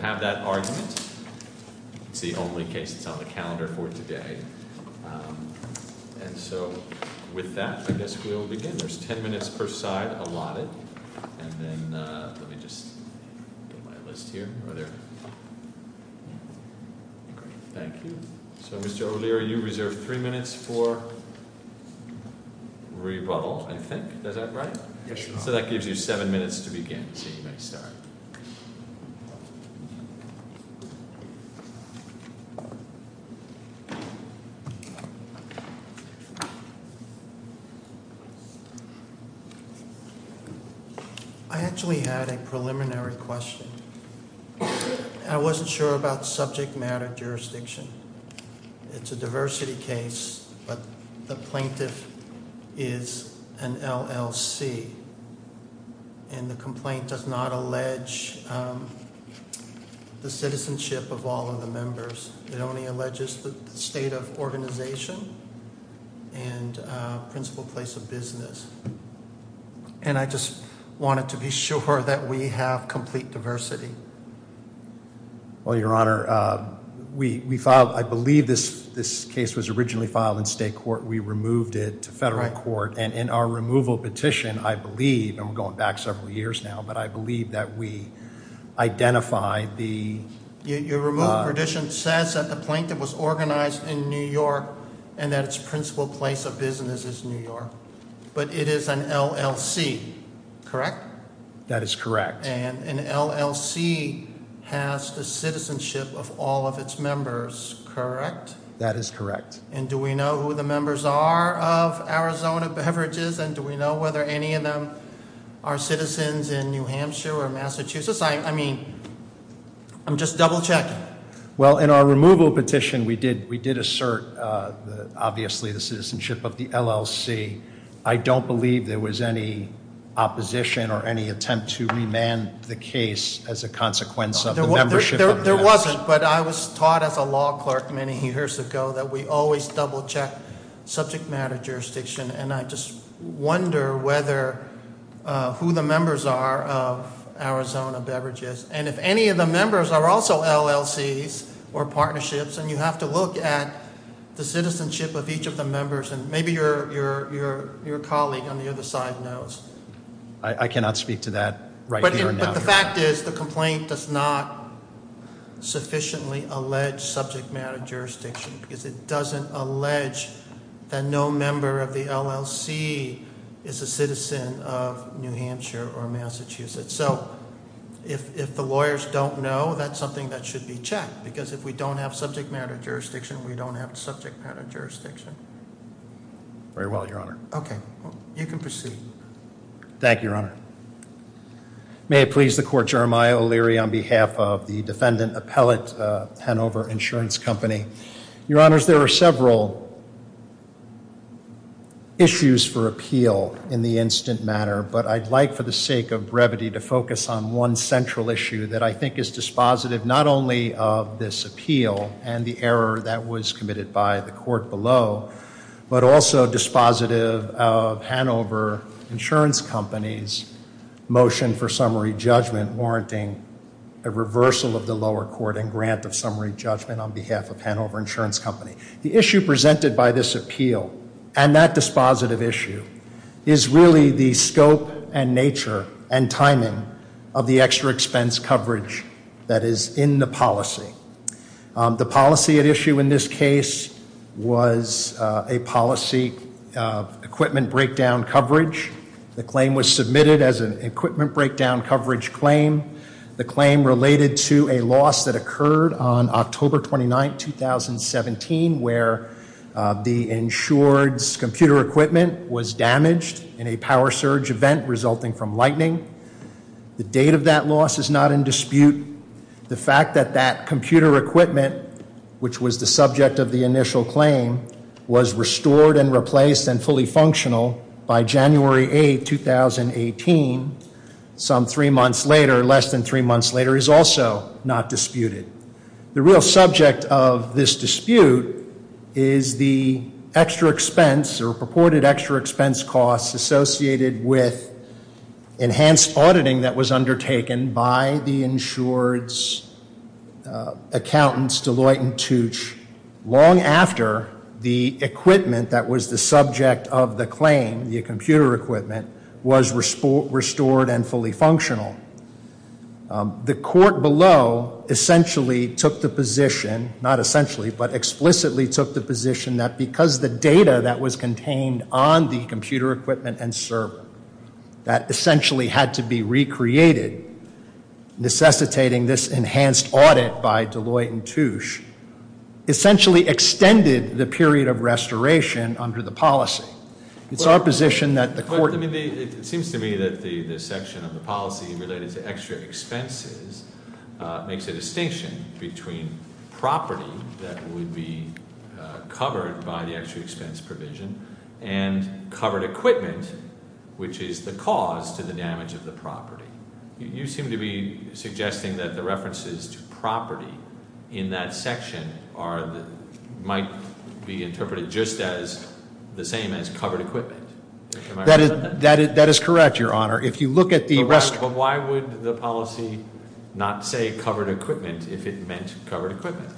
Mr. O'Leary, you have 10 minutes per side allotted. Mr. O'Leary, you have 7 minutes to begin. I actually had a preliminary question. I wasn't sure about subject matter jurisdiction. It's a diversity case, but the plaintiff is an LLC. And the complaint does not allege the citizenship of all of the members. It only alleges the state of organization and principal place of business. And I just wanted to be sure that we have complete diversity. Well, Your Honor, we filed, I believe this case was originally filed in state court. We removed it to federal court. And in our removal petition, I believe, and we're going back several years now, but I believe that we identified the Your removal petition says that the plaintiff was organized in New York and that its principal place of business is New York. But it is an LLC, correct? That is correct. And an LLC has the citizenship of all of its members, correct? That is correct. And do we know who the members are of Arizona Beverages? And do we know whether any of them are citizens in New Hampshire or Massachusetts? I mean, I'm just double checking. Well, in our removal petition, we did assert, obviously, the citizenship of the LLC. I don't believe there was any opposition or any attempt to remand the case as a consequence of the membership contest. There wasn't, but I was taught as a law clerk many years ago that we always double check subject matter jurisdiction. And I just wonder whether, who the members are of Arizona Beverages. And if any of the members are also LLCs or partnerships, and you have to look at the citizenship of each of the members. And maybe your colleague on the other side knows. I cannot speak to that right now. But the fact is the complaint does not sufficiently allege subject matter jurisdiction. Because it doesn't allege that no member of the LLC is a citizen of New Hampshire or Massachusetts. So if the lawyers don't know, that's something that should be checked. Because if we don't have subject matter jurisdiction, we don't have subject matter jurisdiction. Very well, Your Honor. Okay. You can proceed. Thank you, Your Honor. May it please the Court, Jeremiah O'Leary on behalf of the defendant appellate, Hanover Insurance Company. Your Honors, there are several issues for appeal in the instant matter. But I'd like for the sake of brevity to focus on one central issue that I think is dispositive, not only of this appeal and the error that was committed by the court below, but also dispositive of Hanover Insurance Company's motion for summary judgment warranting a reversal of the lower court and grant of summary judgment on behalf of Hanover Insurance Company. The issue presented by this appeal and that dispositive issue is really the scope and nature and timing of the extra expense coverage that is in the policy. The policy at issue in this case was a policy of equipment breakdown coverage. The claim was submitted as an equipment breakdown coverage claim. The claim related to a loss that occurred on October 29, 2017, where the insured's computer equipment was damaged in a power surge event resulting from lightning. The date of that loss is not in dispute. The fact that that computer equipment, which was the subject of the initial claim, was restored and replaced and fully functional by January 8, 2018, some three months later, less than three months later, is also not disputed. The real subject of this dispute is the extra expense or purported extra expense costs associated with enhanced auditing that was undertaken by the insured's accountants, Deloitte and Tooch, long after the equipment that was the subject of the claim, the computer equipment, was restored and fully functional. The court below essentially took the position, not essentially, but explicitly took the position that because the data that was contained on the computer equipment and server that essentially had to be recreated, necessitating this enhanced audit by Deloitte and Tooch, essentially extended the period of restoration under the policy. It's our position that the court- It seems to me that the section of the policy related to extra expenses makes a distinction between property that would be covered by the extra expense provision and covered equipment, which is the cause to the damage of the property. You seem to be suggesting that the references to property in that section might be interpreted just as the same as covered equipment. That is correct, Your Honor. If you look at the- But why would the policy not say covered equipment if it meant covered equipment?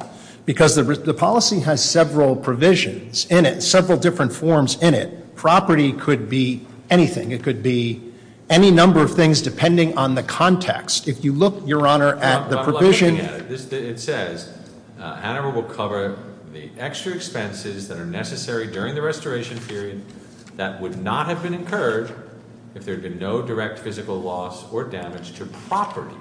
Because the policy has several provisions in it, several different forms in it. Property could be anything. It could be any number of things depending on the context. If you look, Your Honor, at the provision- It says, Ann Arbor will cover the extra expenses that are necessary during the restoration period that would not have been incurred if there had been no direct physical loss or damage to property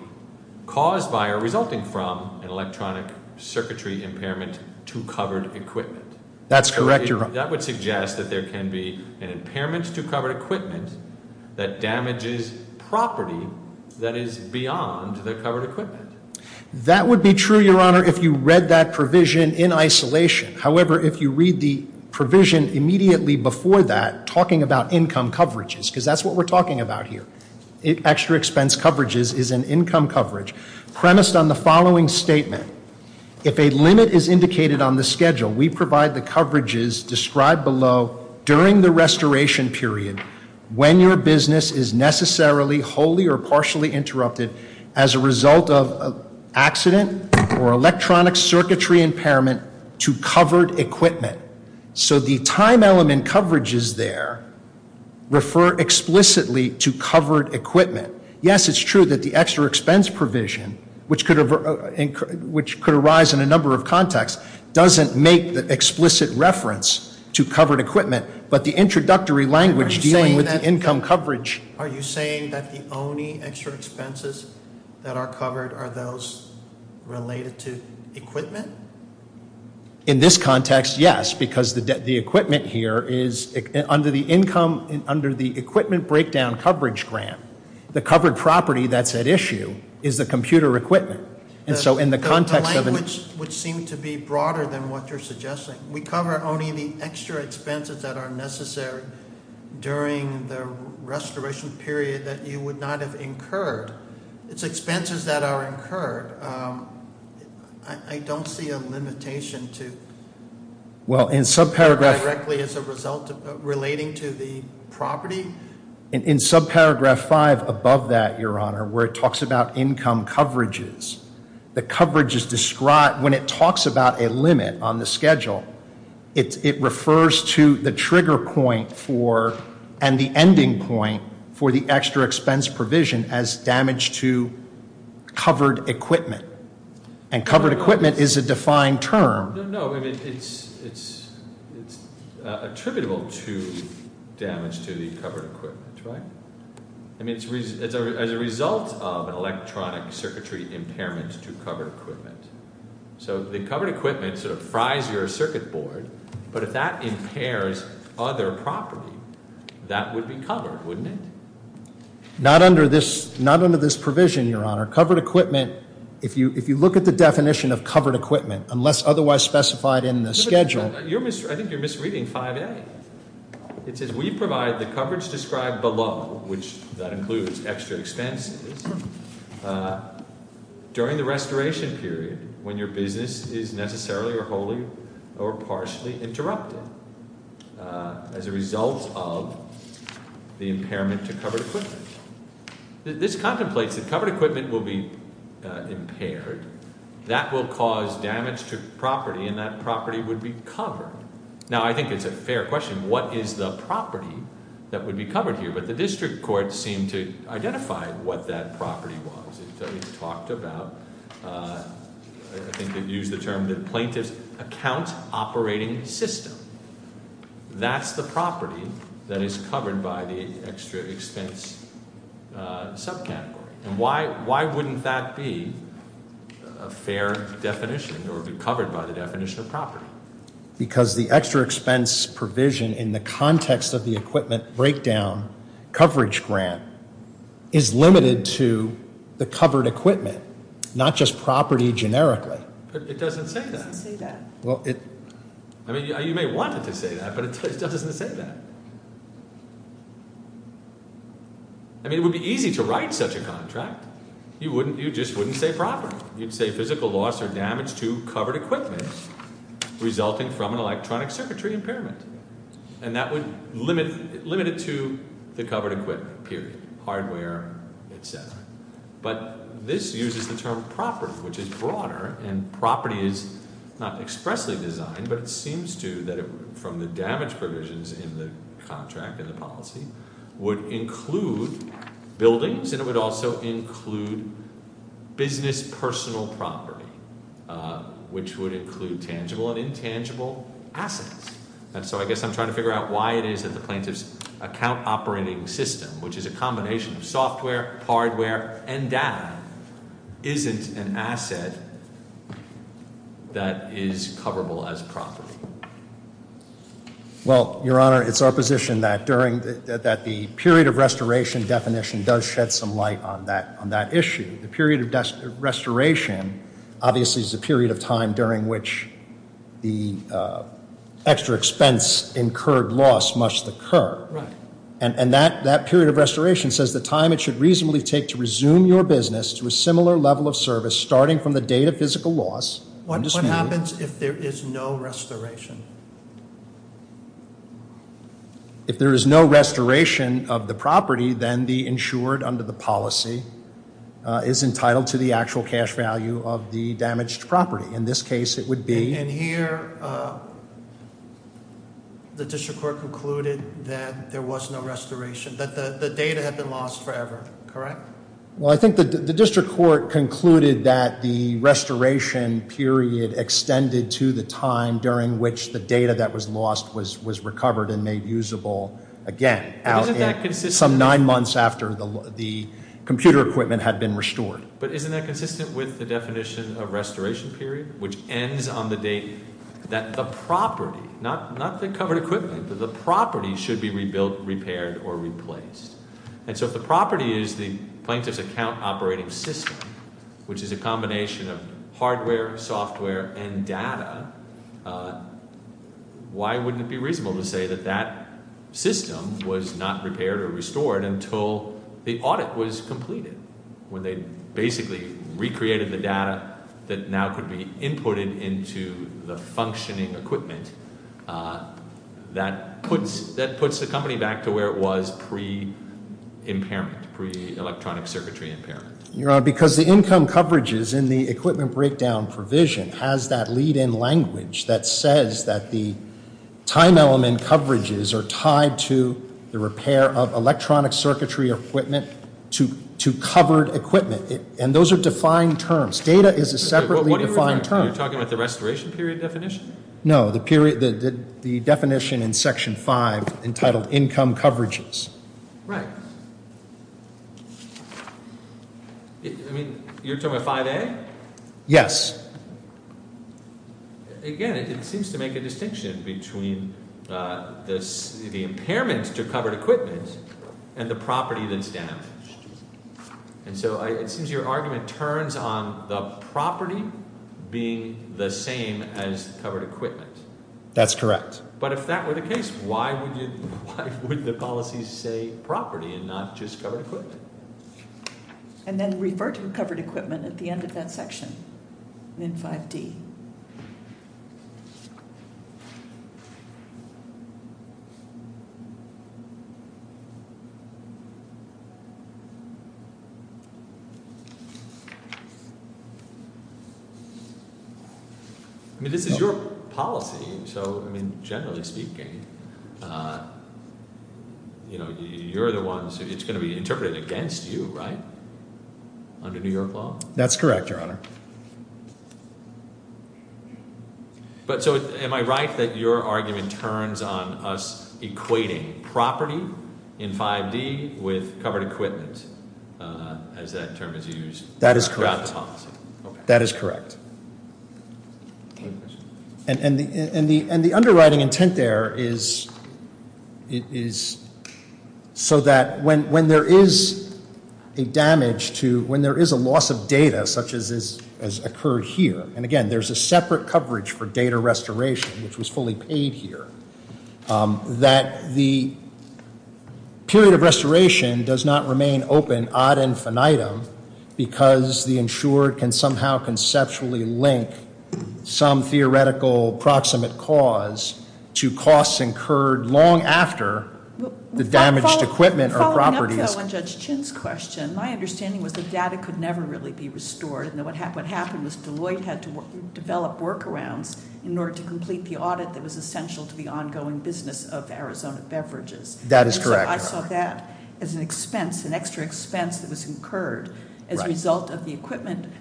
caused by or resulting from an electronic circuitry impairment to covered equipment. That's correct, Your Honor. That would suggest that there can be an impairment to covered equipment that damages property that is beyond the covered equipment. That would be true, Your Honor, if you read that provision in isolation. However, if you read the provision immediately before that talking about income coverages, because that's what we're talking about here, extra expense coverages is an income coverage premised on the following statement. If a limit is indicated on the schedule, we provide the coverages described below during the restoration period when your business is necessarily wholly or partially interrupted as a result of accident or electronic circuitry impairment to covered equipment. So the time element coverages there refer explicitly to covered equipment. Yes, it's true that the extra expense provision, which could arise in a number of contexts, doesn't make the explicit reference to covered equipment, but the introductory language dealing with income coverage- Are you saying that the only extra expenses that are covered are those related to equipment? In this context, yes, because the equipment here is under the equipment breakdown coverage grant. The covered property that's at issue is the computer equipment. The language would seem to be broader than what you're suggesting. We cover only the extra expenses that are necessary during the restoration period that you would not have incurred. It's expenses that are incurred. I don't see a limitation to- Well, in subparagraph- Directly as a result of relating to the property? In subparagraph 5 above that, Your Honor, where it talks about income coverages, the coverages described, when it talks about a limit on the schedule, it refers to the trigger point for and the ending point for the extra expense provision as damage to covered equipment, and covered equipment is a defined term. No, no, it's attributable to damage to the covered equipment, right? I mean, it's as a result of an electronic circuitry impairment to covered equipment. So the covered equipment sort of fries your circuit board, but if that impairs other property, that would be covered, wouldn't it? Not under this provision, Your Honor. Covered equipment, if you look at the definition of covered equipment, unless otherwise specified in the schedule- I think you're misreading 5A. It says we provide the coverage described below, which that includes extra expenses, during the restoration period when your business is necessarily or wholly or partially interrupted as a result of the impairment to covered equipment. This contemplates that covered equipment will be impaired. That will cause damage to property, and that property would be covered. Now, I think it's a fair question. What is the property that would be covered here? But the district courts seem to identify what that property was. It talked about, I think they've used the term the plaintiff's account operating system. That's the property that is covered by the extra expense subcategory. And why wouldn't that be a fair definition or be covered by the definition of property? Because the extra expense provision in the context of the equipment breakdown coverage grant is limited to the covered equipment, not just property generically. But it doesn't say that. I mean, you may want it to say that, but it still doesn't say that. I mean, it would be easy to write such a contract. You just wouldn't say property. You'd say physical loss or damage to covered equipment resulting from an electronic circuitry impairment. And that would limit it to the covered equipment, period, hardware, et cetera. But this uses the term property, which is broader. And property is not expressly designed, but it seems to, from the damage provisions in the contract and the policy, would include buildings, and it would also include business personal property, which would include tangible and intangible assets. And so I guess I'm trying to figure out why it is that the plaintiff's account operating system, which is a combination of software, hardware, and data, isn't an asset that is coverable as property. Well, Your Honor, it's our position that the period of restoration definition does shed some light on that issue. The period of restoration, obviously, is the period of time during which the extra expense incurred loss must occur. Right. And that period of restoration says the time it should reasonably take to resume your business to a similar level of service, starting from the date of physical loss. What happens if there is no restoration? If there is no restoration of the property, then the insured under the policy is entitled to the actual cash value of the damaged property. In this case, it would be- And here, the district court concluded that there was no restoration, that the data had been lost forever, correct? Well, I think the district court concluded that the restoration period extended to the time during which the data that was lost was recovered and made usable again. But isn't that consistent- Some nine months after the computer equipment had been restored. But isn't that consistent with the definition of restoration period, which ends on the date that the property, not the covered equipment, but the property should be rebuilt, repaired, or replaced. And so if the property is the plaintiff's account operating system, which is a combination of hardware, software, and data, why wouldn't it be reasonable to say that that system was not repaired or restored until the audit was completed? When they basically recreated the data that now could be inputted into the functioning equipment, that puts the company back to where it was pre-impairment, pre-electronic circuitry impairment. Your Honor, because the income coverages in the equipment breakdown provision has that lead-in language that says that the time element coverages are tied to the repair of electronic circuitry equipment to covered equipment. And those are defined terms. Data is a separately defined term. You're talking about the restoration period definition? No, the definition in Section 5 entitled income coverages. Right. I mean, you're talking about 5A? Yes. Again, it seems to make a distinction between the impairment to covered equipment and the property that's damaged. And so it seems your argument turns on the property being the same as covered equipment. That's correct. But if that were the case, why would the policy say property and not just covered equipment? And then refer to covered equipment at the end of that section in 5D. I mean, this is your policy. So, I mean, generally speaking, you know, you're the ones, it's going to be interpreted against you, right? Under New York law? That's correct, Your Honor. But so am I right that your argument turns on us equating property in 5D with covered equipment as that term is used? That is correct. That is correct. And the underwriting intent there is so that when there is a damage to, when there is a loss of data such as occurred here, and, again, there's a separate coverage for data restoration, which was fully paid here, that the period of restoration does not remain open ad infinitum because the insured can somehow conceptually link some theoretical proximate cause to costs incurred long after the damaged equipment or properties. Following up to Judge Chin's question, my understanding was that data could never really be restored. And what happened was Deloitte had to develop workarounds in order to complete the audit that was essential to the ongoing business of Arizona Beverages. That is correct. And so I saw that as an expense, an extra expense that was incurred as a result of the equipment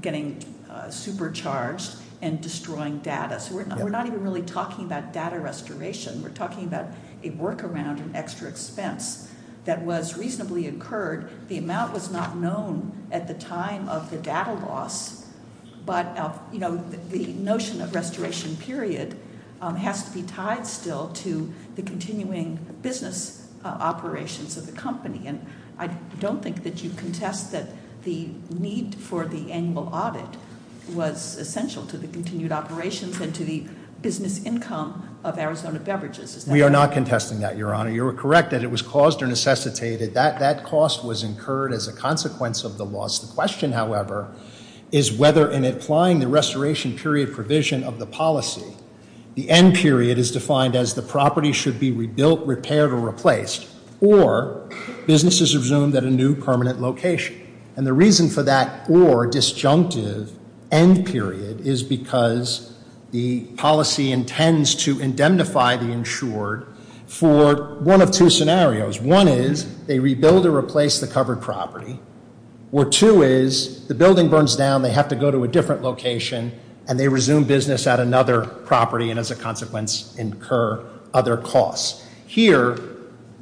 getting supercharged and destroying data. So we're not even really talking about data restoration. We're talking about a workaround, an extra expense that was reasonably incurred. The amount was not known at the time of the data loss. But the notion of restoration period has to be tied still to the continuing business operations of the company. And I don't think that you contest that the need for the annual audit was essential to the continued operations and to the business income of Arizona Beverages. Is that correct? We are not contesting that, Your Honor. You are correct that it was caused or necessitated. That cost was incurred as a consequence of the loss. The question, however, is whether in applying the restoration period provision of the policy, the end period is defined as the property should be rebuilt, repaired, or replaced, or businesses resumed at a new permanent location. And the reason for that or disjunctive end period is because the policy intends to indemnify the insured for one of two scenarios. One is they rebuild or replace the covered property, or two is the building burns down, they have to go to a different location, and they resume business at another property and as a consequence incur other costs. Here,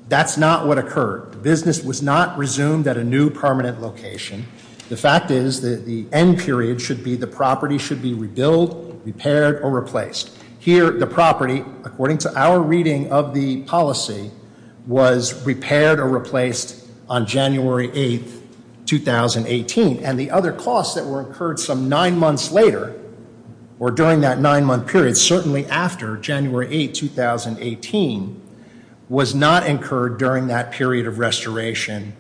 that's not what occurred. The business was not resumed at a new permanent location. The fact is that the end period should be the property should be rebuilt, repaired, or replaced. Here, the property, according to our reading of the policy, was repaired or replaced on January 8, 2018. And the other costs that were incurred some nine months later or during that nine-month period, certainly after January 8, 2018, was not incurred during that period of restoration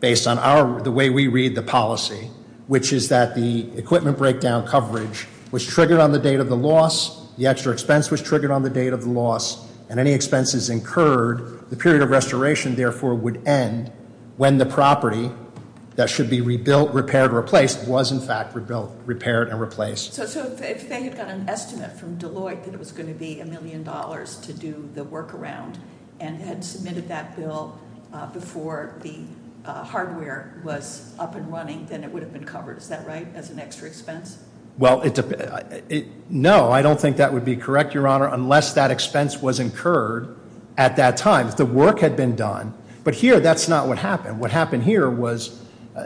based on the way we read the policy, which is that the equipment breakdown coverage was triggered on the date of the loss. The extra expense was triggered on the date of the loss. And any expenses incurred, the period of restoration, therefore, would end when the property that should be rebuilt, repaired, or replaced was, in fact, rebuilt, repaired, and replaced. So if they had got an estimate from Deloitte that it was going to be a million dollars to do the workaround and had submitted that bill before the hardware was up and running, then it would have been covered. Is that right, as an extra expense? Well, no, I don't think that would be correct, Your Honor, unless that expense was incurred at that time. The work had been done. But here, that's not what happened. What happened here was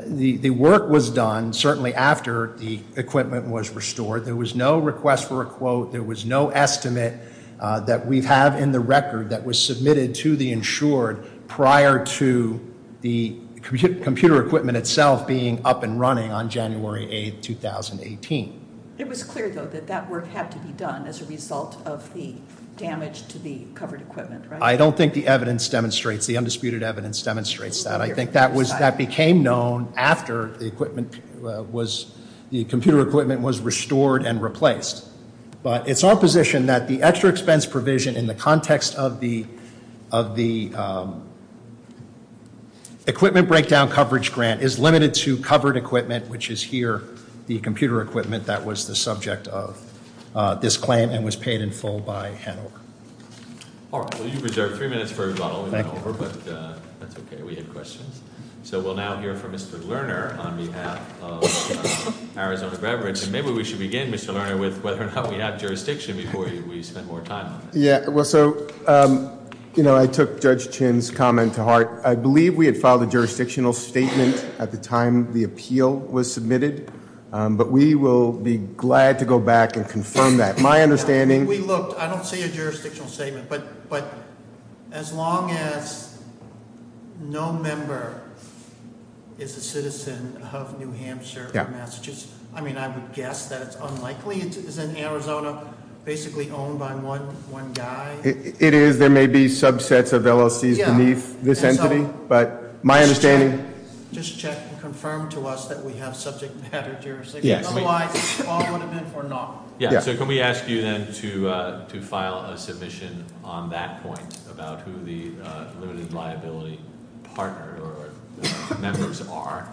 the work was done, certainly after the equipment was restored. There was no request for a quote. There was no estimate that we have in the record that was submitted to the insured prior to the computer equipment itself being up and running on January 8, 2018. It was clear, though, that that work had to be done as a result of the damage to the covered equipment, right? I don't think the evidence demonstrates, the undisputed evidence demonstrates that. I think that became known after the computer equipment was restored and replaced. But it's our position that the extra expense provision, in the context of the Equipment Breakdown Coverage Grant, is limited to covered equipment, which is here, the computer equipment that was the subject of this claim and was paid in full by Hanover. All right, well, you've reserved three minutes for rebuttal. Thank you. But that's okay. We had questions. So we'll now hear from Mr. Lerner on behalf of Arizona Reverence. And maybe we should begin, Mr. Lerner, with whether or not we have jurisdiction before we spend more time on this. Yeah, well, so I took Judge Chinn's comment to heart. I believe we had filed a jurisdictional statement at the time the appeal was submitted. But we will be glad to go back and confirm that. My understanding We looked. I don't see a jurisdictional statement. But as long as no member is a citizen of New Hampshire or Massachusetts, I mean, I would guess that it's unlikely. Isn't Arizona basically owned by one guy? It is. There may be subsets of LLCs beneath this entity. But my understanding Just check and confirm to us that we have subject matter jurisdiction. Otherwise, all would have been for naught. Yeah, so can we ask you then to file a submission on that point about who the limited liability partner or members are?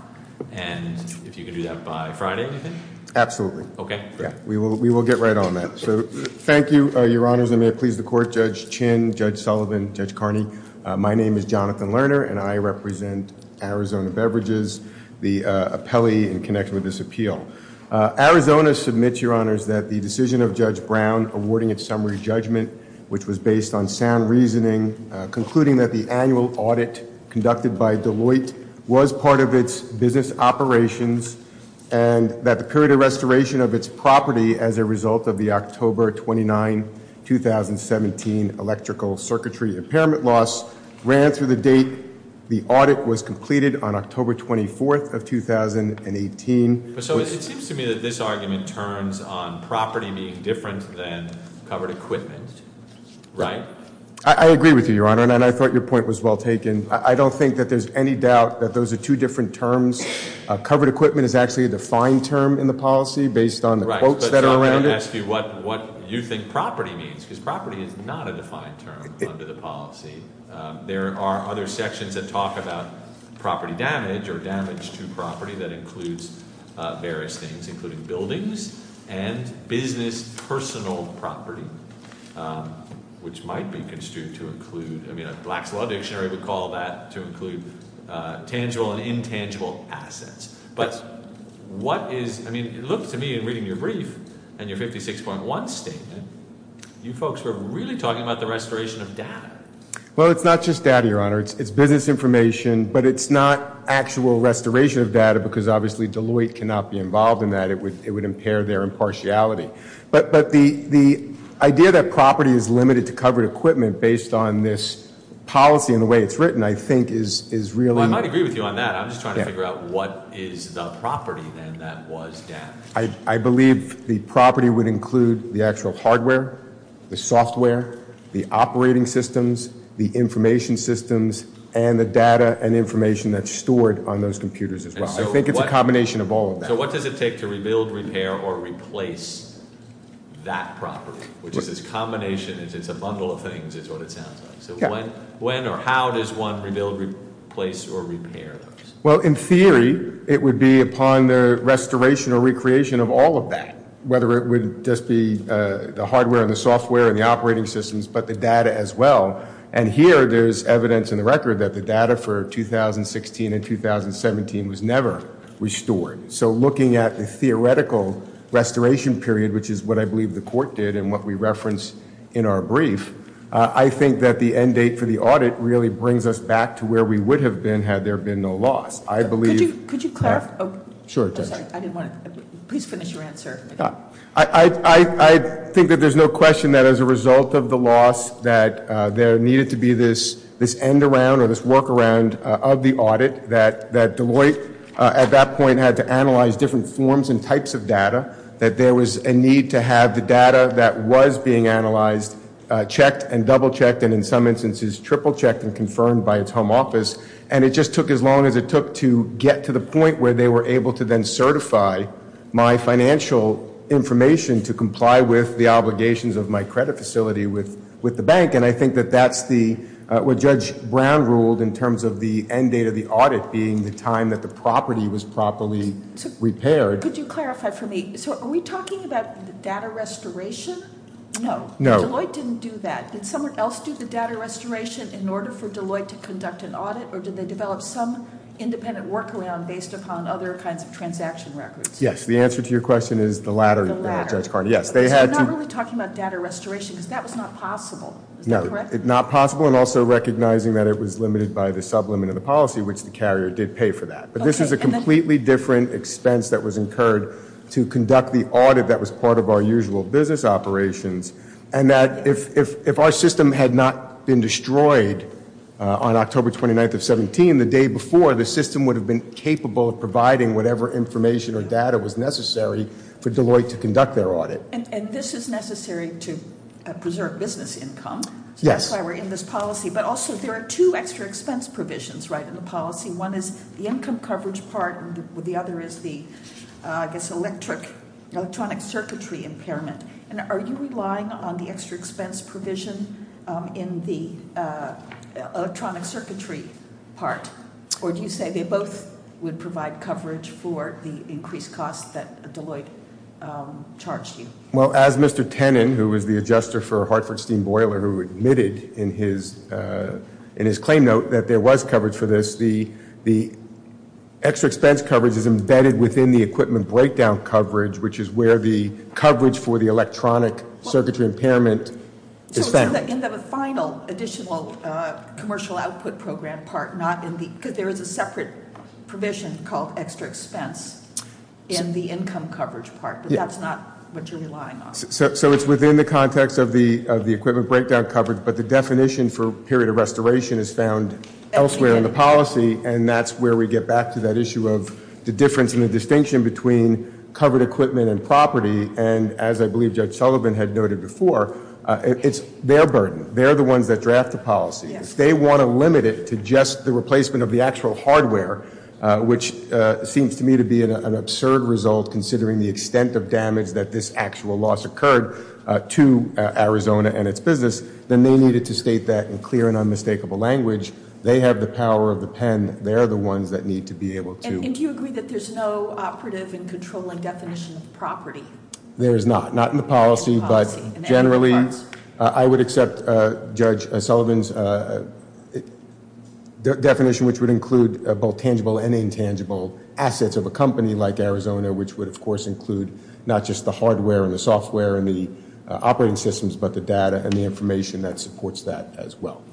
And if you can do that by Friday? Absolutely. Okay. We will get right on that. So thank you, Your Honors. And may it please the Court, Judge Chinn, Judge Sullivan, Judge Carney. My name is Jonathan Lerner, and I represent Arizona Beverages, the appellee in connection with this appeal. Arizona submits, Your Honors, that the decision of Judge Brown awarding its summary judgment, which was based on sound reasoning, concluding that the annual audit conducted by Deloitte was part of its business operations, and that the period of restoration of its property as a result of the October 29, 2017 electrical circuitry impairment loss ran through the date the audit was completed on October 24th of 2018. So it seems to me that this argument turns on property being different than covered equipment, right? I agree with you, Your Honor, and I thought your point was well taken. I don't think that there's any doubt that those are two different terms. Covered equipment is actually a defined term in the policy based on the quotes that are around it. Right, but I'm going to ask you what you think property means, because property is not a defined term under the policy. There are other sections that talk about property damage or damage to property that includes various things, including buildings and business personal property, which might be construed to include, I mean, a Black's Law Dictionary would call that to include tangible and intangible assets. But what is, I mean, it looks to me in reading your brief and your 56.1 statement, you folks were really talking about the restoration of data. Well, it's not just data, Your Honor. It's business information, but it's not actual restoration of data because obviously Deloitte cannot be involved in that. It would impair their impartiality. But the idea that property is limited to covered equipment based on this policy and the way it's written, I think, is really- Well, I might agree with you on that. I'm just trying to figure out what is the property then that was damaged. I believe the property would include the actual hardware, the software, the operating systems, the information systems, and the data and information that's stored on those computers as well. I think it's a combination of all of that. So what does it take to rebuild, repair, or replace that property? Which is this combination, it's a bundle of things is what it sounds like. So when or how does one rebuild, replace, or repair those? Well, in theory, it would be upon the restoration or recreation of all of that, whether it would just be the hardware and the software and the operating systems, but the data as well. And here there's evidence in the record that the data for 2016 and 2017 was never restored. So looking at the theoretical restoration period, which is what I believe the court did and what we referenced in our brief, I think that the end date for the audit really brings us back to where we would have been had there been no loss. I believe- Could you clarify? Sure, Judge. I didn't want to, please finish your answer. I think that there's no question that as a result of the loss that there needed to be this end around or this work around of the audit, that Deloitte at that point had to analyze different forms and types of data, that there was a need to have the data that was being analyzed checked and double-checked and in some instances triple-checked and confirmed by its home office. And it just took as long as it took to get to the point where they were able to then certify my financial information to comply with the obligations of my credit facility with the bank. And I think that that's what Judge Brown ruled in terms of the end date of the audit being the time that the property was properly repaired. Could you clarify for me, so are we talking about the data restoration? No. Deloitte didn't do that. Did someone else do the data restoration in order for Deloitte to conduct an audit or did they develop some independent workaround based upon other kinds of transaction records? Yes, the answer to your question is the latter, Judge Carney. So you're not really talking about data restoration because that was not possible, is that correct? No, not possible and also recognizing that it was limited by the sublimit of the policy, which the carrier did pay for that. But this is a completely different expense that was incurred to conduct the audit that was part of our usual business operations. And that if our system had not been destroyed on October 29th of 17, the day before the system would have been capable of providing whatever information or data was necessary for Deloitte to conduct their audit. And this is necessary to preserve business income. Yes. So that's why we're in this policy. But also there are two extra expense provisions, right, in the policy. One is the income coverage part and the other is the, I guess, electronic circuitry impairment. And are you relying on the extra expense provision in the electronic circuitry part? Or do you say they both would provide coverage for the increased cost that Deloitte charged you? Well, as Mr. Tennant, who was the adjuster for Hartford Steam Boiler, who admitted in his claim note that there was coverage for this, the extra expense coverage is embedded within the equipment breakdown coverage, which is where the coverage for the electronic circuitry impairment is found. So in the final additional commercial output program part, not in the, because there is a separate provision called extra expense in the income coverage part. But that's not what you're relying on. So it's within the context of the equipment breakdown coverage, but the definition for period of restoration is found elsewhere in the policy, and that's where we get back to that issue of the difference in the distinction between covered equipment and property. And as I believe Judge Sullivan had noted before, it's their burden. They're the ones that draft the policy. If they want to limit it to just the replacement of the actual hardware, which seems to me to be an absurd result, considering the extent of damage that this actual loss occurred to Arizona and its business, then they needed to state that in clear and unmistakable language. They have the power of the pen. They're the ones that need to be able to. And do you agree that there's no operative and controlling definition of property? There is not, not in the policy, but generally I would accept Judge Sullivan's definition, which would include both tangible and intangible assets of a company like Arizona, which would, of course, include not just the hardware and the software and the operating systems, but the data and the information that supports that as well.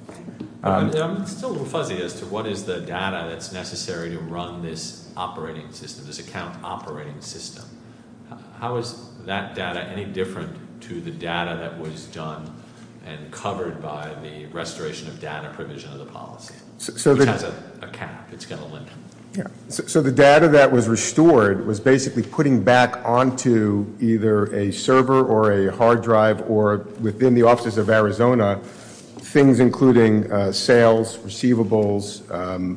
I'm still a little fuzzy as to what is the data that's necessary to run this operating system, this account operating system. How is that data any different to the data that was done and covered by the restoration of data provision of the policy? It has a cap. It's got a limit. So the data that was restored was basically putting back onto either a server or a hard drive or within the offices of Arizona things including sales, receivables,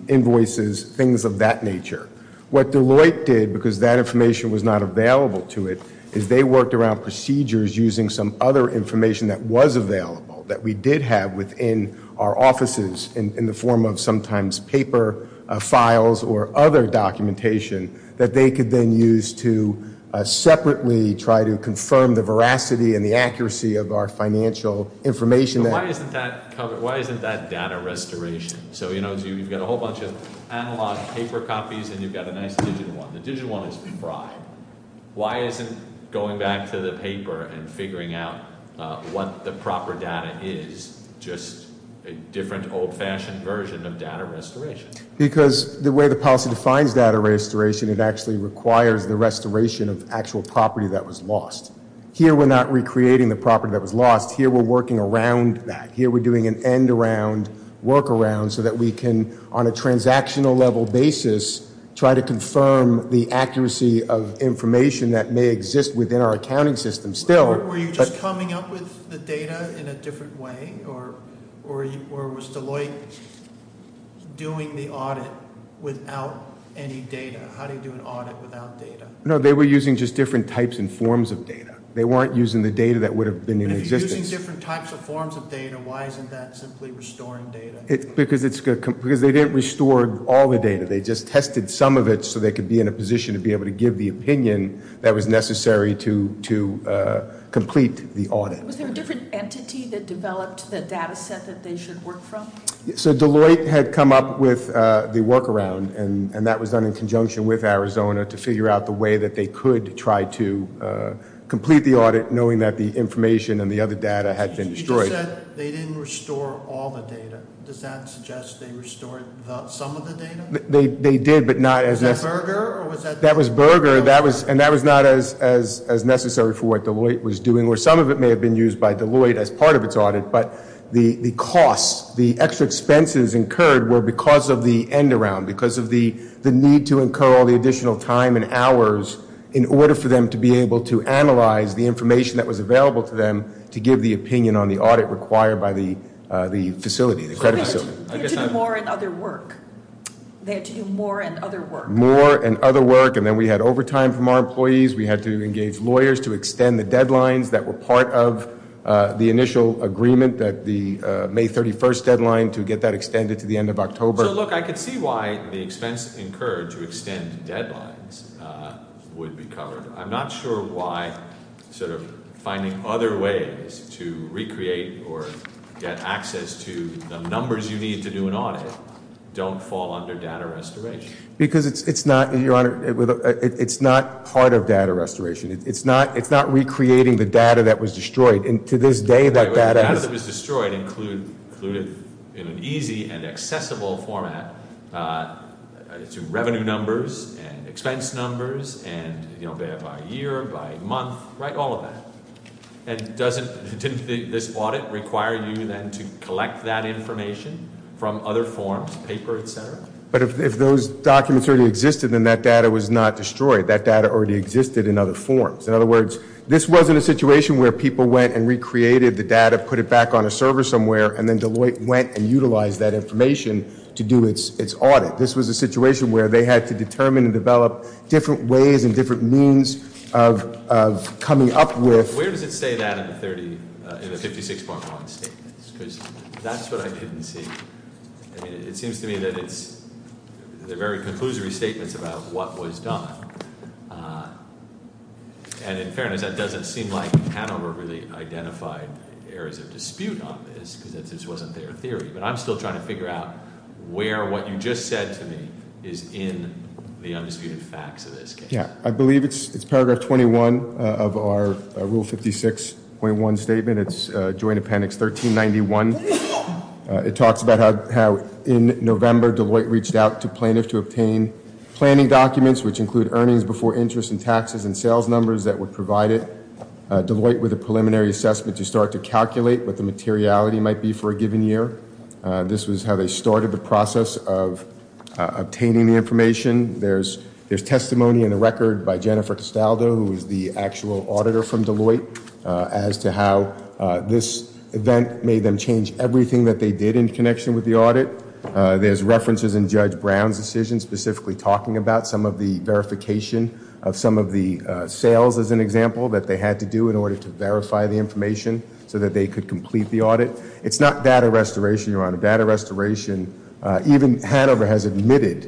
invoices, things of that nature. What Deloitte did, because that information was not available to it, is they worked around procedures using some other information that was available, that we did have within our offices in the form of sometimes paper files or other documentation, that they could then use to separately try to confirm the veracity and the accuracy of our financial information. Why isn't that data restoration? So you've got a whole bunch of analog paper copies and you've got a nice digital one. The digital one is fried. Why isn't going back to the paper and figuring out what the proper data is just a different old-fashioned version of data restoration? Because the way the policy defines data restoration, it actually requires the restoration of actual property that was lost. Here we're not recreating the property that was lost. Here we're working around that. Here we're doing an end-around workaround so that we can, on a transactional level basis, try to confirm the accuracy of information that may exist within our accounting system. Were you just coming up with the data in a different way? Or was Deloitte doing the audit without any data? How do you do an audit without data? No, they were using just different types and forms of data. They weren't using the data that would have been in existence. They were using different types and forms of data. Why isn't that simply restoring data? Because they didn't restore all the data. They just tested some of it so they could be in a position to be able to give the opinion that was necessary to complete the audit. Was there a different entity that developed the data set that they should work from? So Deloitte had come up with the workaround, and that was done in conjunction with Arizona to figure out the way that they could try to complete the audit, knowing that the information and the other data had been destroyed. You just said they didn't restore all the data. Does that suggest they restored some of the data? They did, but not as- Was that Berger, or was that- That was Berger, and that was not as necessary for what Deloitte was doing. Some of it may have been used by Deloitte as part of its audit, but the costs, the extra expenses incurred were because of the end-around, because of the need to incur all the additional time and hours in order for them to be able to analyze the information that was available to them to give the opinion on the audit required by the facility, the credit facility. They had to do more and other work. They had to do more and other work. More and other work, and then we had overtime from our employees. We had to engage lawyers to extend the deadlines that were part of the initial agreement, the May 31st deadline, to get that extended to the end of October. So, look, I can see why the expense incurred to extend deadlines would be covered. I'm not sure why sort of finding other ways to recreate or get access to the numbers you need to do an audit don't fall under data restoration. Because it's not, Your Honor, it's not part of data restoration. It's not recreating the data that was destroyed, and to this day that data- in an easy and accessible format to revenue numbers and expense numbers and, you know, by year, by month, right, all of that. And didn't this audit require you then to collect that information from other forms, paper, et cetera? But if those documents already existed, then that data was not destroyed. That data already existed in other forms. In other words, this wasn't a situation where people went and recreated the data, put it back on a server somewhere, and then Deloitte went and utilized that information to do its audit. This was a situation where they had to determine and develop different ways and different means of coming up with- Where does it say that in the 56.1 statements? Because that's what I didn't see. I mean, it seems to me that it's the very conclusory statements about what was done. And in fairness, that doesn't seem like Hanover really identified areas of dispute on this, because this wasn't their theory. But I'm still trying to figure out where what you just said to me is in the undisputed facts of this case. Yeah, I believe it's paragraph 21 of our Rule 56.1 statement. It's Joint Appendix 1391. It talks about how in November Deloitte reached out to plaintiffs to obtain planning documents, which include earnings before interest and taxes and sales numbers that were provided. Deloitte with a preliminary assessment to start to calculate what the materiality might be for a given year. This was how they started the process of obtaining the information. There's testimony in the record by Jennifer Costaldo, who is the actual auditor from Deloitte, as to how this event made them change everything that they did in connection with the audit. There's references in Judge Brown's decision specifically talking about some of the verification of some of the sales, as an example, that they had to do in order to verify the information so that they could complete the audit. It's not data restoration, Your Honor. Data restoration even Hanover has admitted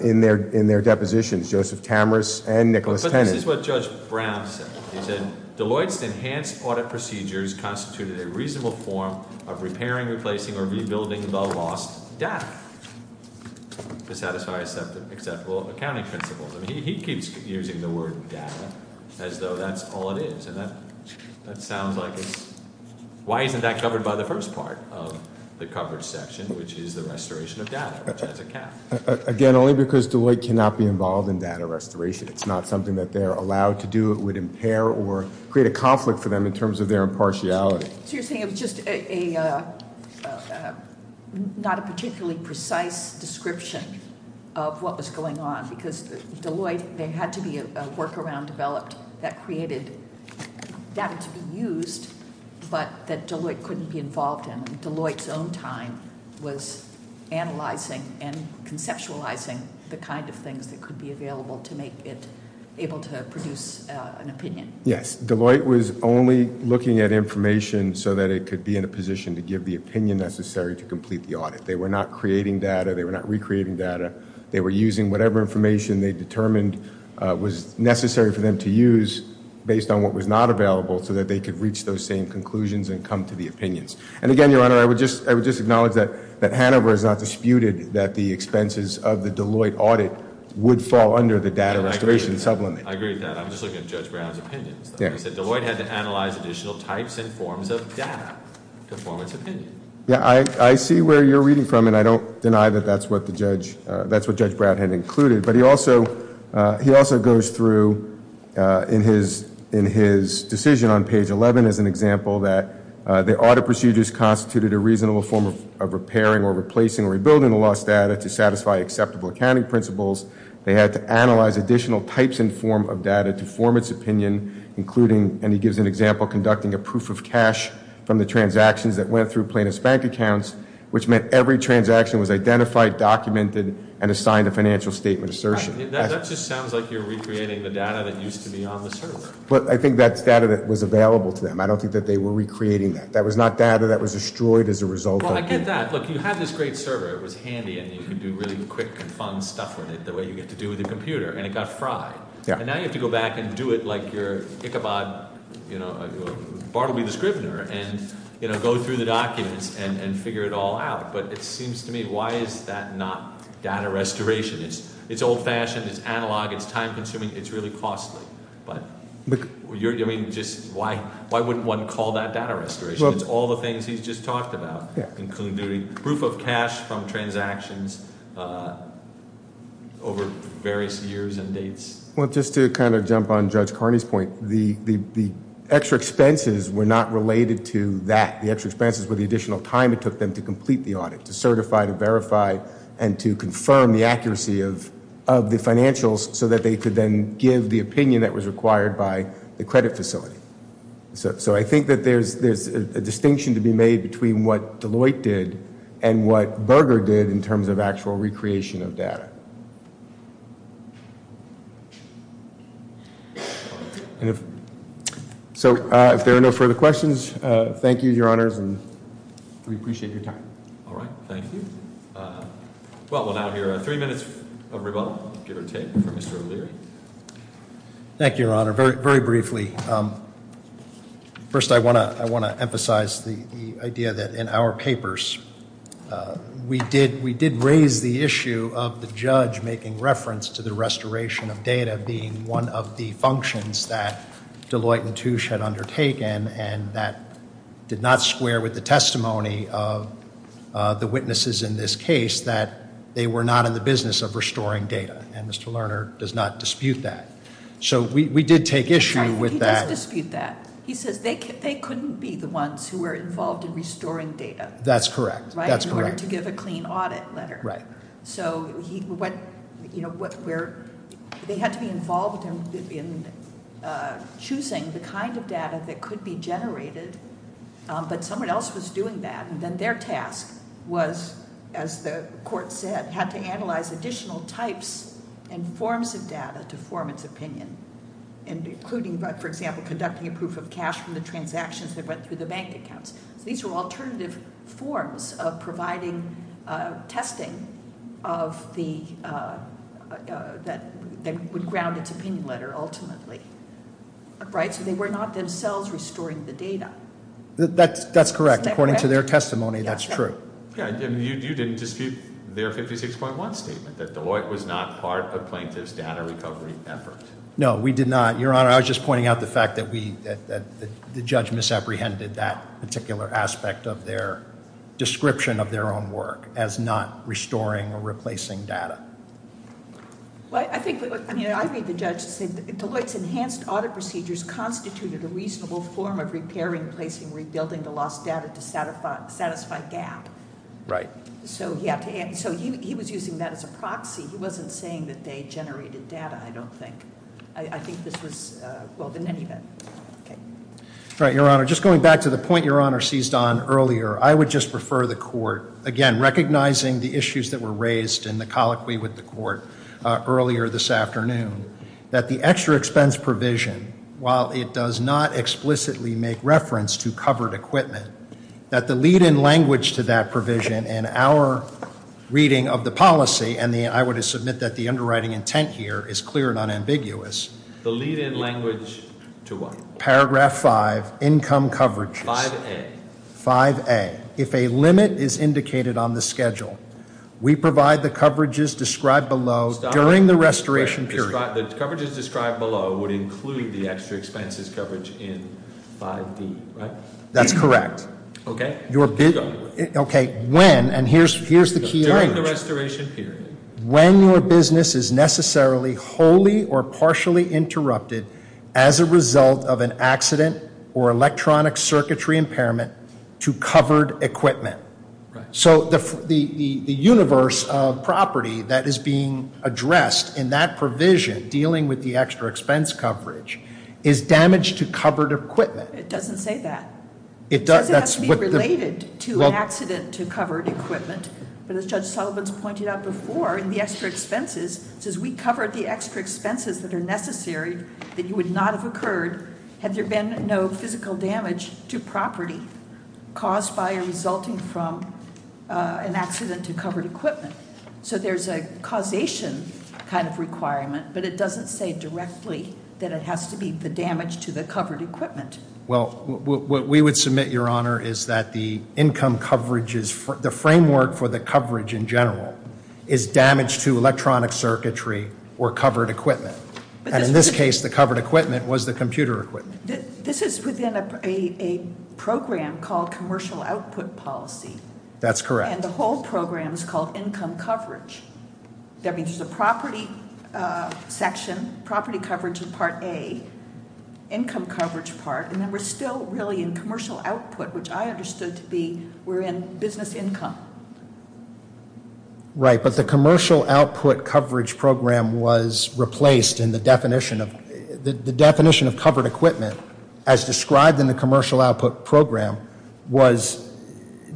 in their depositions, Joseph Tamaris and Nicholas Tennant. This is what Judge Brown said. He said, Deloitte's enhanced audit procedures constituted a reasonable form of repairing, replacing, or rebuilding the lost data. To satisfy acceptable accounting principles. I mean, he keeps using the word data as though that's all it is. And that sounds like it's, why isn't that covered by the first part of the coverage section, which is the restoration of data, which has a cap? Again, only because Deloitte cannot be involved in data restoration. It's not something that they're allowed to do. It would impair or create a conflict for them in terms of their impartiality. So you're saying it was just a, not a particularly precise description of what was going on. Because Deloitte, there had to be a workaround developed that created data to be used, but that Deloitte couldn't be involved in. Deloitte's own time was analyzing and conceptualizing the kind of things that could be available to make it able to produce an opinion. Yes, Deloitte was only looking at information so that it could be in a position to give the opinion necessary to complete the audit. They were not creating data. They were not recreating data. They were using whatever information they determined was necessary for them to use based on what was not available so that they could reach those same conclusions and come to the opinions. And again, Your Honor, I would just acknowledge that Hanover has not disputed that the expenses of the Deloitte audit would fall under the data restoration supplement. I agree with that. I'm just looking at Judge Brown's opinions. Deloitte had to analyze additional types and forms of data to form its opinion. Yeah, I see where you're reading from, and I don't deny that that's what Judge Brown had included. But he also goes through in his decision on page 11 as an example that the audit procedures constituted a reasonable form of repairing or replacing or rebuilding the lost data to satisfy acceptable accounting principles. They had to analyze additional types and forms of data to form its opinion, including, and he gives an example, conducting a proof of cash from the transactions that went through plaintiff's bank accounts, which meant every transaction was identified, documented, and assigned a financial statement assertion. That just sounds like you're recreating the data that used to be on the server. But I think that's data that was available to them. I don't think that they were recreating that. That was not data that was destroyed as a result of- Well, I get that. Look, you had this great server. It was handy, and you could do really quick and fun stuff with it the way you get to do with a computer. And it got fried. Yeah. And now you have to go back and do it like your Ichabod, you know, Bartleby the Scrivener and go through the documents and figure it all out. But it seems to me, why is that not data restoration? It's old-fashioned. It's analog. It's time-consuming. It's really costly. But why wouldn't one call that data restoration? It's all the things he's just talked about, including doing proof of cash from transactions over various years and dates. Well, just to kind of jump on Judge Carney's point, the extra expenses were not related to that. The extra expenses were the additional time it took them to complete the audit, to certify, to verify, and to confirm the accuracy of the financials so that they could then give the opinion that was required by the credit facility. So I think that there's a distinction to be made between what Deloitte did and what Berger did in terms of actual recreation of data. So if there are no further questions, thank you, Your Honors, and we appreciate your time. All right. Thank you. Well, we'll now hear three minutes of rebuttal, give or take, from Mr. O'Leary. Thank you, Your Honor. Very briefly, first I want to emphasize the idea that in our papers we did raise the issue of the judge making reference to the restoration of data being one of the functions that Deloitte and Touche had undertaken, and that did not square with the testimony of the witnesses in this case that they were not in the business of restoring data. And Mr. Lerner does not dispute that. So we did take issue with that. He doesn't dispute that. He says they couldn't be the ones who were involved in restoring data. That's correct. In order to give a clean audit letter. So they had to be involved in choosing the kind of data that could be generated, but someone else was doing that. And then their task was, as the court said, had to analyze additional types and forms of data to form its opinion, including, for example, conducting a proof of cash from the transactions that went through the bank accounts. These were alternative forms of providing testing that would ground its opinion letter, ultimately. Right? So they were not themselves restoring the data. That's correct. According to their testimony, that's true. You didn't dispute their 56.1 statement, that Deloitte was not part of a plaintiff's data recovery effort. No, we did not. Your Honor, I was just pointing out the fact that the judge misapprehended that particular aspect of their description of their own work as not restoring or replacing data. Well, I think, I mean, I read the judge to say Deloitte's enhanced audit procedures constituted a reasonable form of repairing, placing, rebuilding the lost data to satisfy gap. Right. So he was using that as a proxy. He wasn't saying that they generated data, I don't think. I think this was well in any event. Right, Your Honor. Just going back to the point Your Honor seized on earlier, I would just prefer the court, again, recognizing the issues that were raised in the colloquy with the court earlier this afternoon, that the extra expense provision, while it does not explicitly make reference to covered equipment, that the lead-in language to that provision in our reading of the policy, and I would submit that the underwriting intent here is clear and unambiguous. The lead-in language to what? Paragraph 5, income coverage. 5A. 5A. And if a limit is indicated on the schedule, we provide the coverages described below during the restoration period. The coverages described below would include the extra expenses coverage in 5D, right? That's correct. Okay. Okay, when, and here's the key language. During the restoration period. When your business is necessarily wholly or partially interrupted as a result of an accident or electronic circuitry impairment to covered equipment. Right. So the universe of property that is being addressed in that provision, dealing with the extra expense coverage, is damaged to covered equipment. It doesn't say that. It does, that's what the. It says it has to be related to an accident to covered equipment. But as Judge Sullivan's pointed out before, in the extra expenses, it says we covered the extra expenses that are necessary, that you would not have occurred, had there been no physical damage to property caused by or resulting from an accident to covered equipment. So there's a causation kind of requirement, but it doesn't say directly that it has to be the damage to the covered equipment. Well, what we would submit, Your Honor, is that the income coverage is, the framework for the coverage in general, is damage to electronic circuitry or covered equipment. And in this case, the covered equipment was the computer equipment. This is within a program called commercial output policy. That's correct. And the whole program is called income coverage. That means there's a property section, property coverage in part A, income coverage part, and then we're still really in commercial output, which I understood to be we're in business income. Right, but the commercial output coverage program was replaced in the definition of, the definition of covered equipment, as described in the commercial output program, was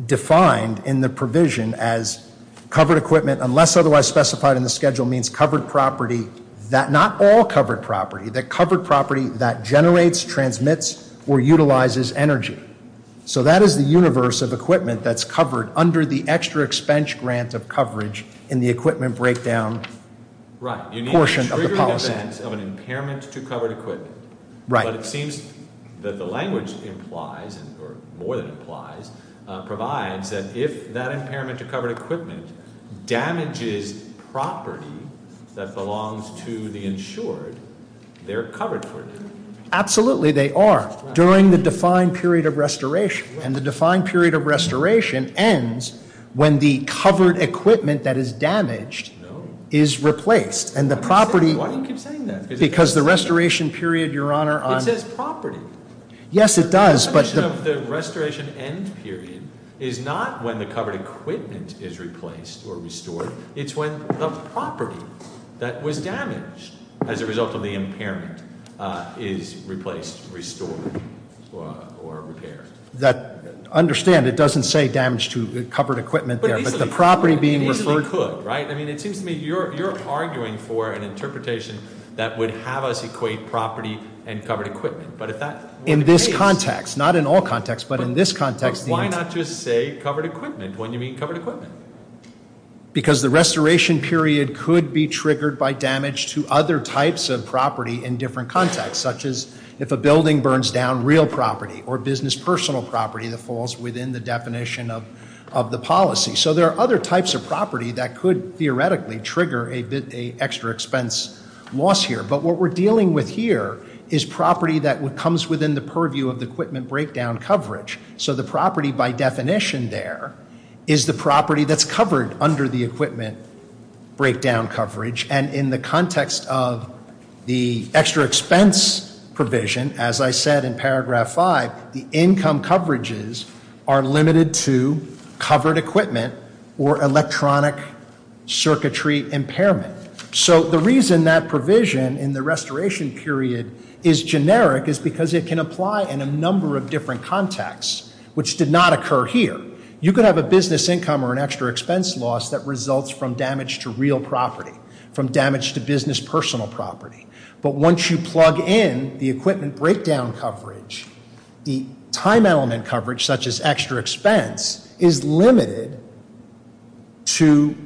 defined in the provision as covered equipment, unless otherwise specified in the schedule, means covered property that, not all covered property, but covered property that generates, transmits, or utilizes energy. So that is the universe of equipment that's covered under the extra expense grant of coverage in the equipment breakdown portion of the policy. Right, you need a triggering event of an impairment to covered equipment. Right. But it seems that the language implies, or more than implies, provides that if that impairment to covered equipment damages property that belongs to the insured, they're covered for it. Absolutely they are, during the defined period of restoration. And the defined period of restoration ends when the covered equipment that is damaged is replaced. And the property- Why do you keep saying that? Because the restoration period, your honor, on- It says property. Yes, it does, but- The definition of the restoration end period is not when the covered equipment is replaced or restored. It's when the property that was damaged as a result of the impairment is replaced, restored, or repaired. Understand, it doesn't say damaged to covered equipment there, but the property being referred- It easily could, right? I mean, it seems to me you're arguing for an interpretation that would have us equate property and covered equipment, but if that- In this context, not in all contexts, but in this context- Why not just say covered equipment when you mean covered equipment? Because the restoration period could be triggered by damage to other types of property in different contexts, such as if a building burns down real property or business personal property that falls within the definition of the policy. So there are other types of property that could theoretically trigger an extra expense loss here. But what we're dealing with here is property that comes within the purview of the equipment breakdown coverage. So the property by definition there is the property that's covered under the equipment breakdown coverage. And in the context of the extra expense provision, as I said in paragraph five, the income coverages are limited to covered equipment or electronic circuitry impairment. So the reason that provision in the restoration period is generic is because it can apply in a number of different contexts, which did not occur here. You could have a business income or an extra expense loss that results from damage to real property, from damage to business personal property. But once you plug in the equipment breakdown coverage, the time element coverage such as extra expense is limited to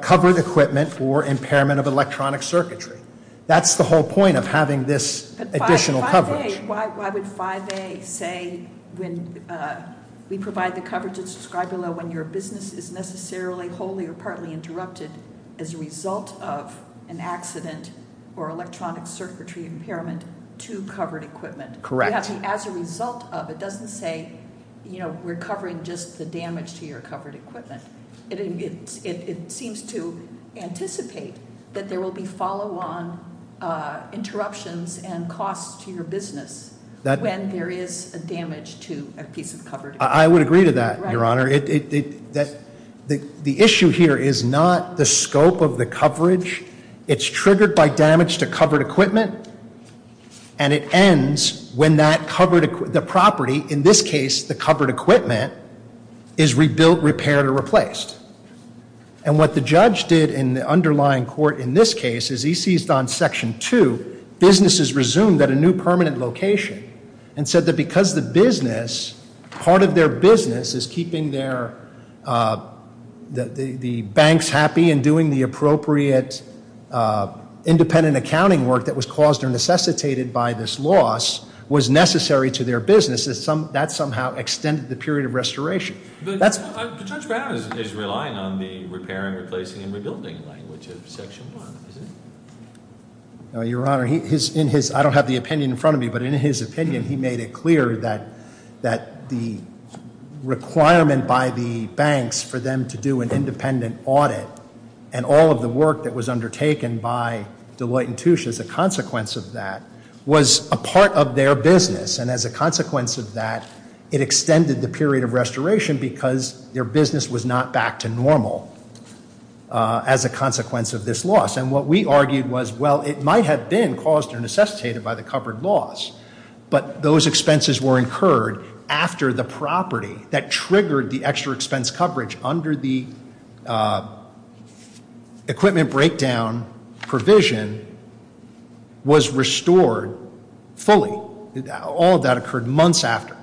covered equipment or impairment of electronic circuitry. That's the whole point of having this additional coverage. Okay, why would 5A say when we provide the coverage, it's described below when your business is necessarily wholly or partly interrupted as a result of an accident or electronic circuitry impairment to covered equipment. Correct. As a result of, it doesn't say we're covering just the damage to your covered equipment. It seems to anticipate that there will be follow on interruptions and costs to your business when there is a damage to a piece of covered equipment. I would agree to that, Your Honor. Correct. The issue here is not the scope of the coverage. It's triggered by damage to covered equipment. And it ends when the property, in this case the covered equipment, is rebuilt, repaired, or replaced. And what the judge did in the underlying court in this case is he seized on section two, businesses resumed at a new permanent location and said that because the business, part of their business is keeping the banks happy and doing the appropriate independent accounting work that was caused or necessitated by this loss, was necessary to their business, that somehow extended the period of restoration. But Judge Brown is relying on the repair and replacing and rebuilding language of section one, isn't he? Your Honor, I don't have the opinion in front of me, but in his opinion, he made it clear that the requirement by the banks for them to do an independent audit and all of the work that was undertaken by Deloitte and Touche as a consequence of that was a part of their business and as a consequence of that, it extended the period of restoration because their business was not back to normal as a consequence of this loss. And what we argued was, well, it might have been caused or necessitated by the covered loss, but those expenses were incurred after the property that triggered the extra expense coverage under the equipment breakdown provision was restored fully. All of that occurred months after.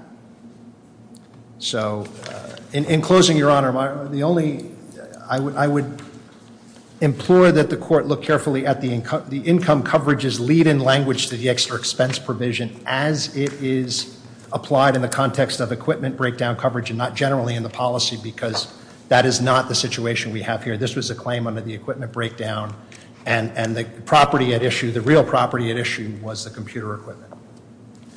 So in closing, Your Honor, the only, I would implore that the court look at this decision as it is applied in the context of equipment breakdown coverage and not generally in the policy because that is not the situation we have here. This was a claim under the equipment breakdown and the property at issue, the real property at issue, was the computer equipment.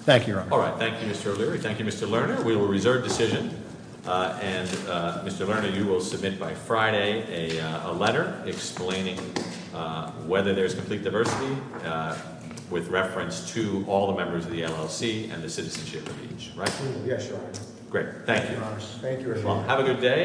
Thank you, Your Honor. All right. Thank you, Mr. O'Leary. Thank you, Mr. Lerner. We will reserve decision. And Mr. Lerner, you will submit by Friday a letter explaining whether there is complete diversity with reference to all the members of the LLC and the citizenship of each, right? Yes, Your Honor. Great. Thank you. Thank you, Your Honor. Have a good day.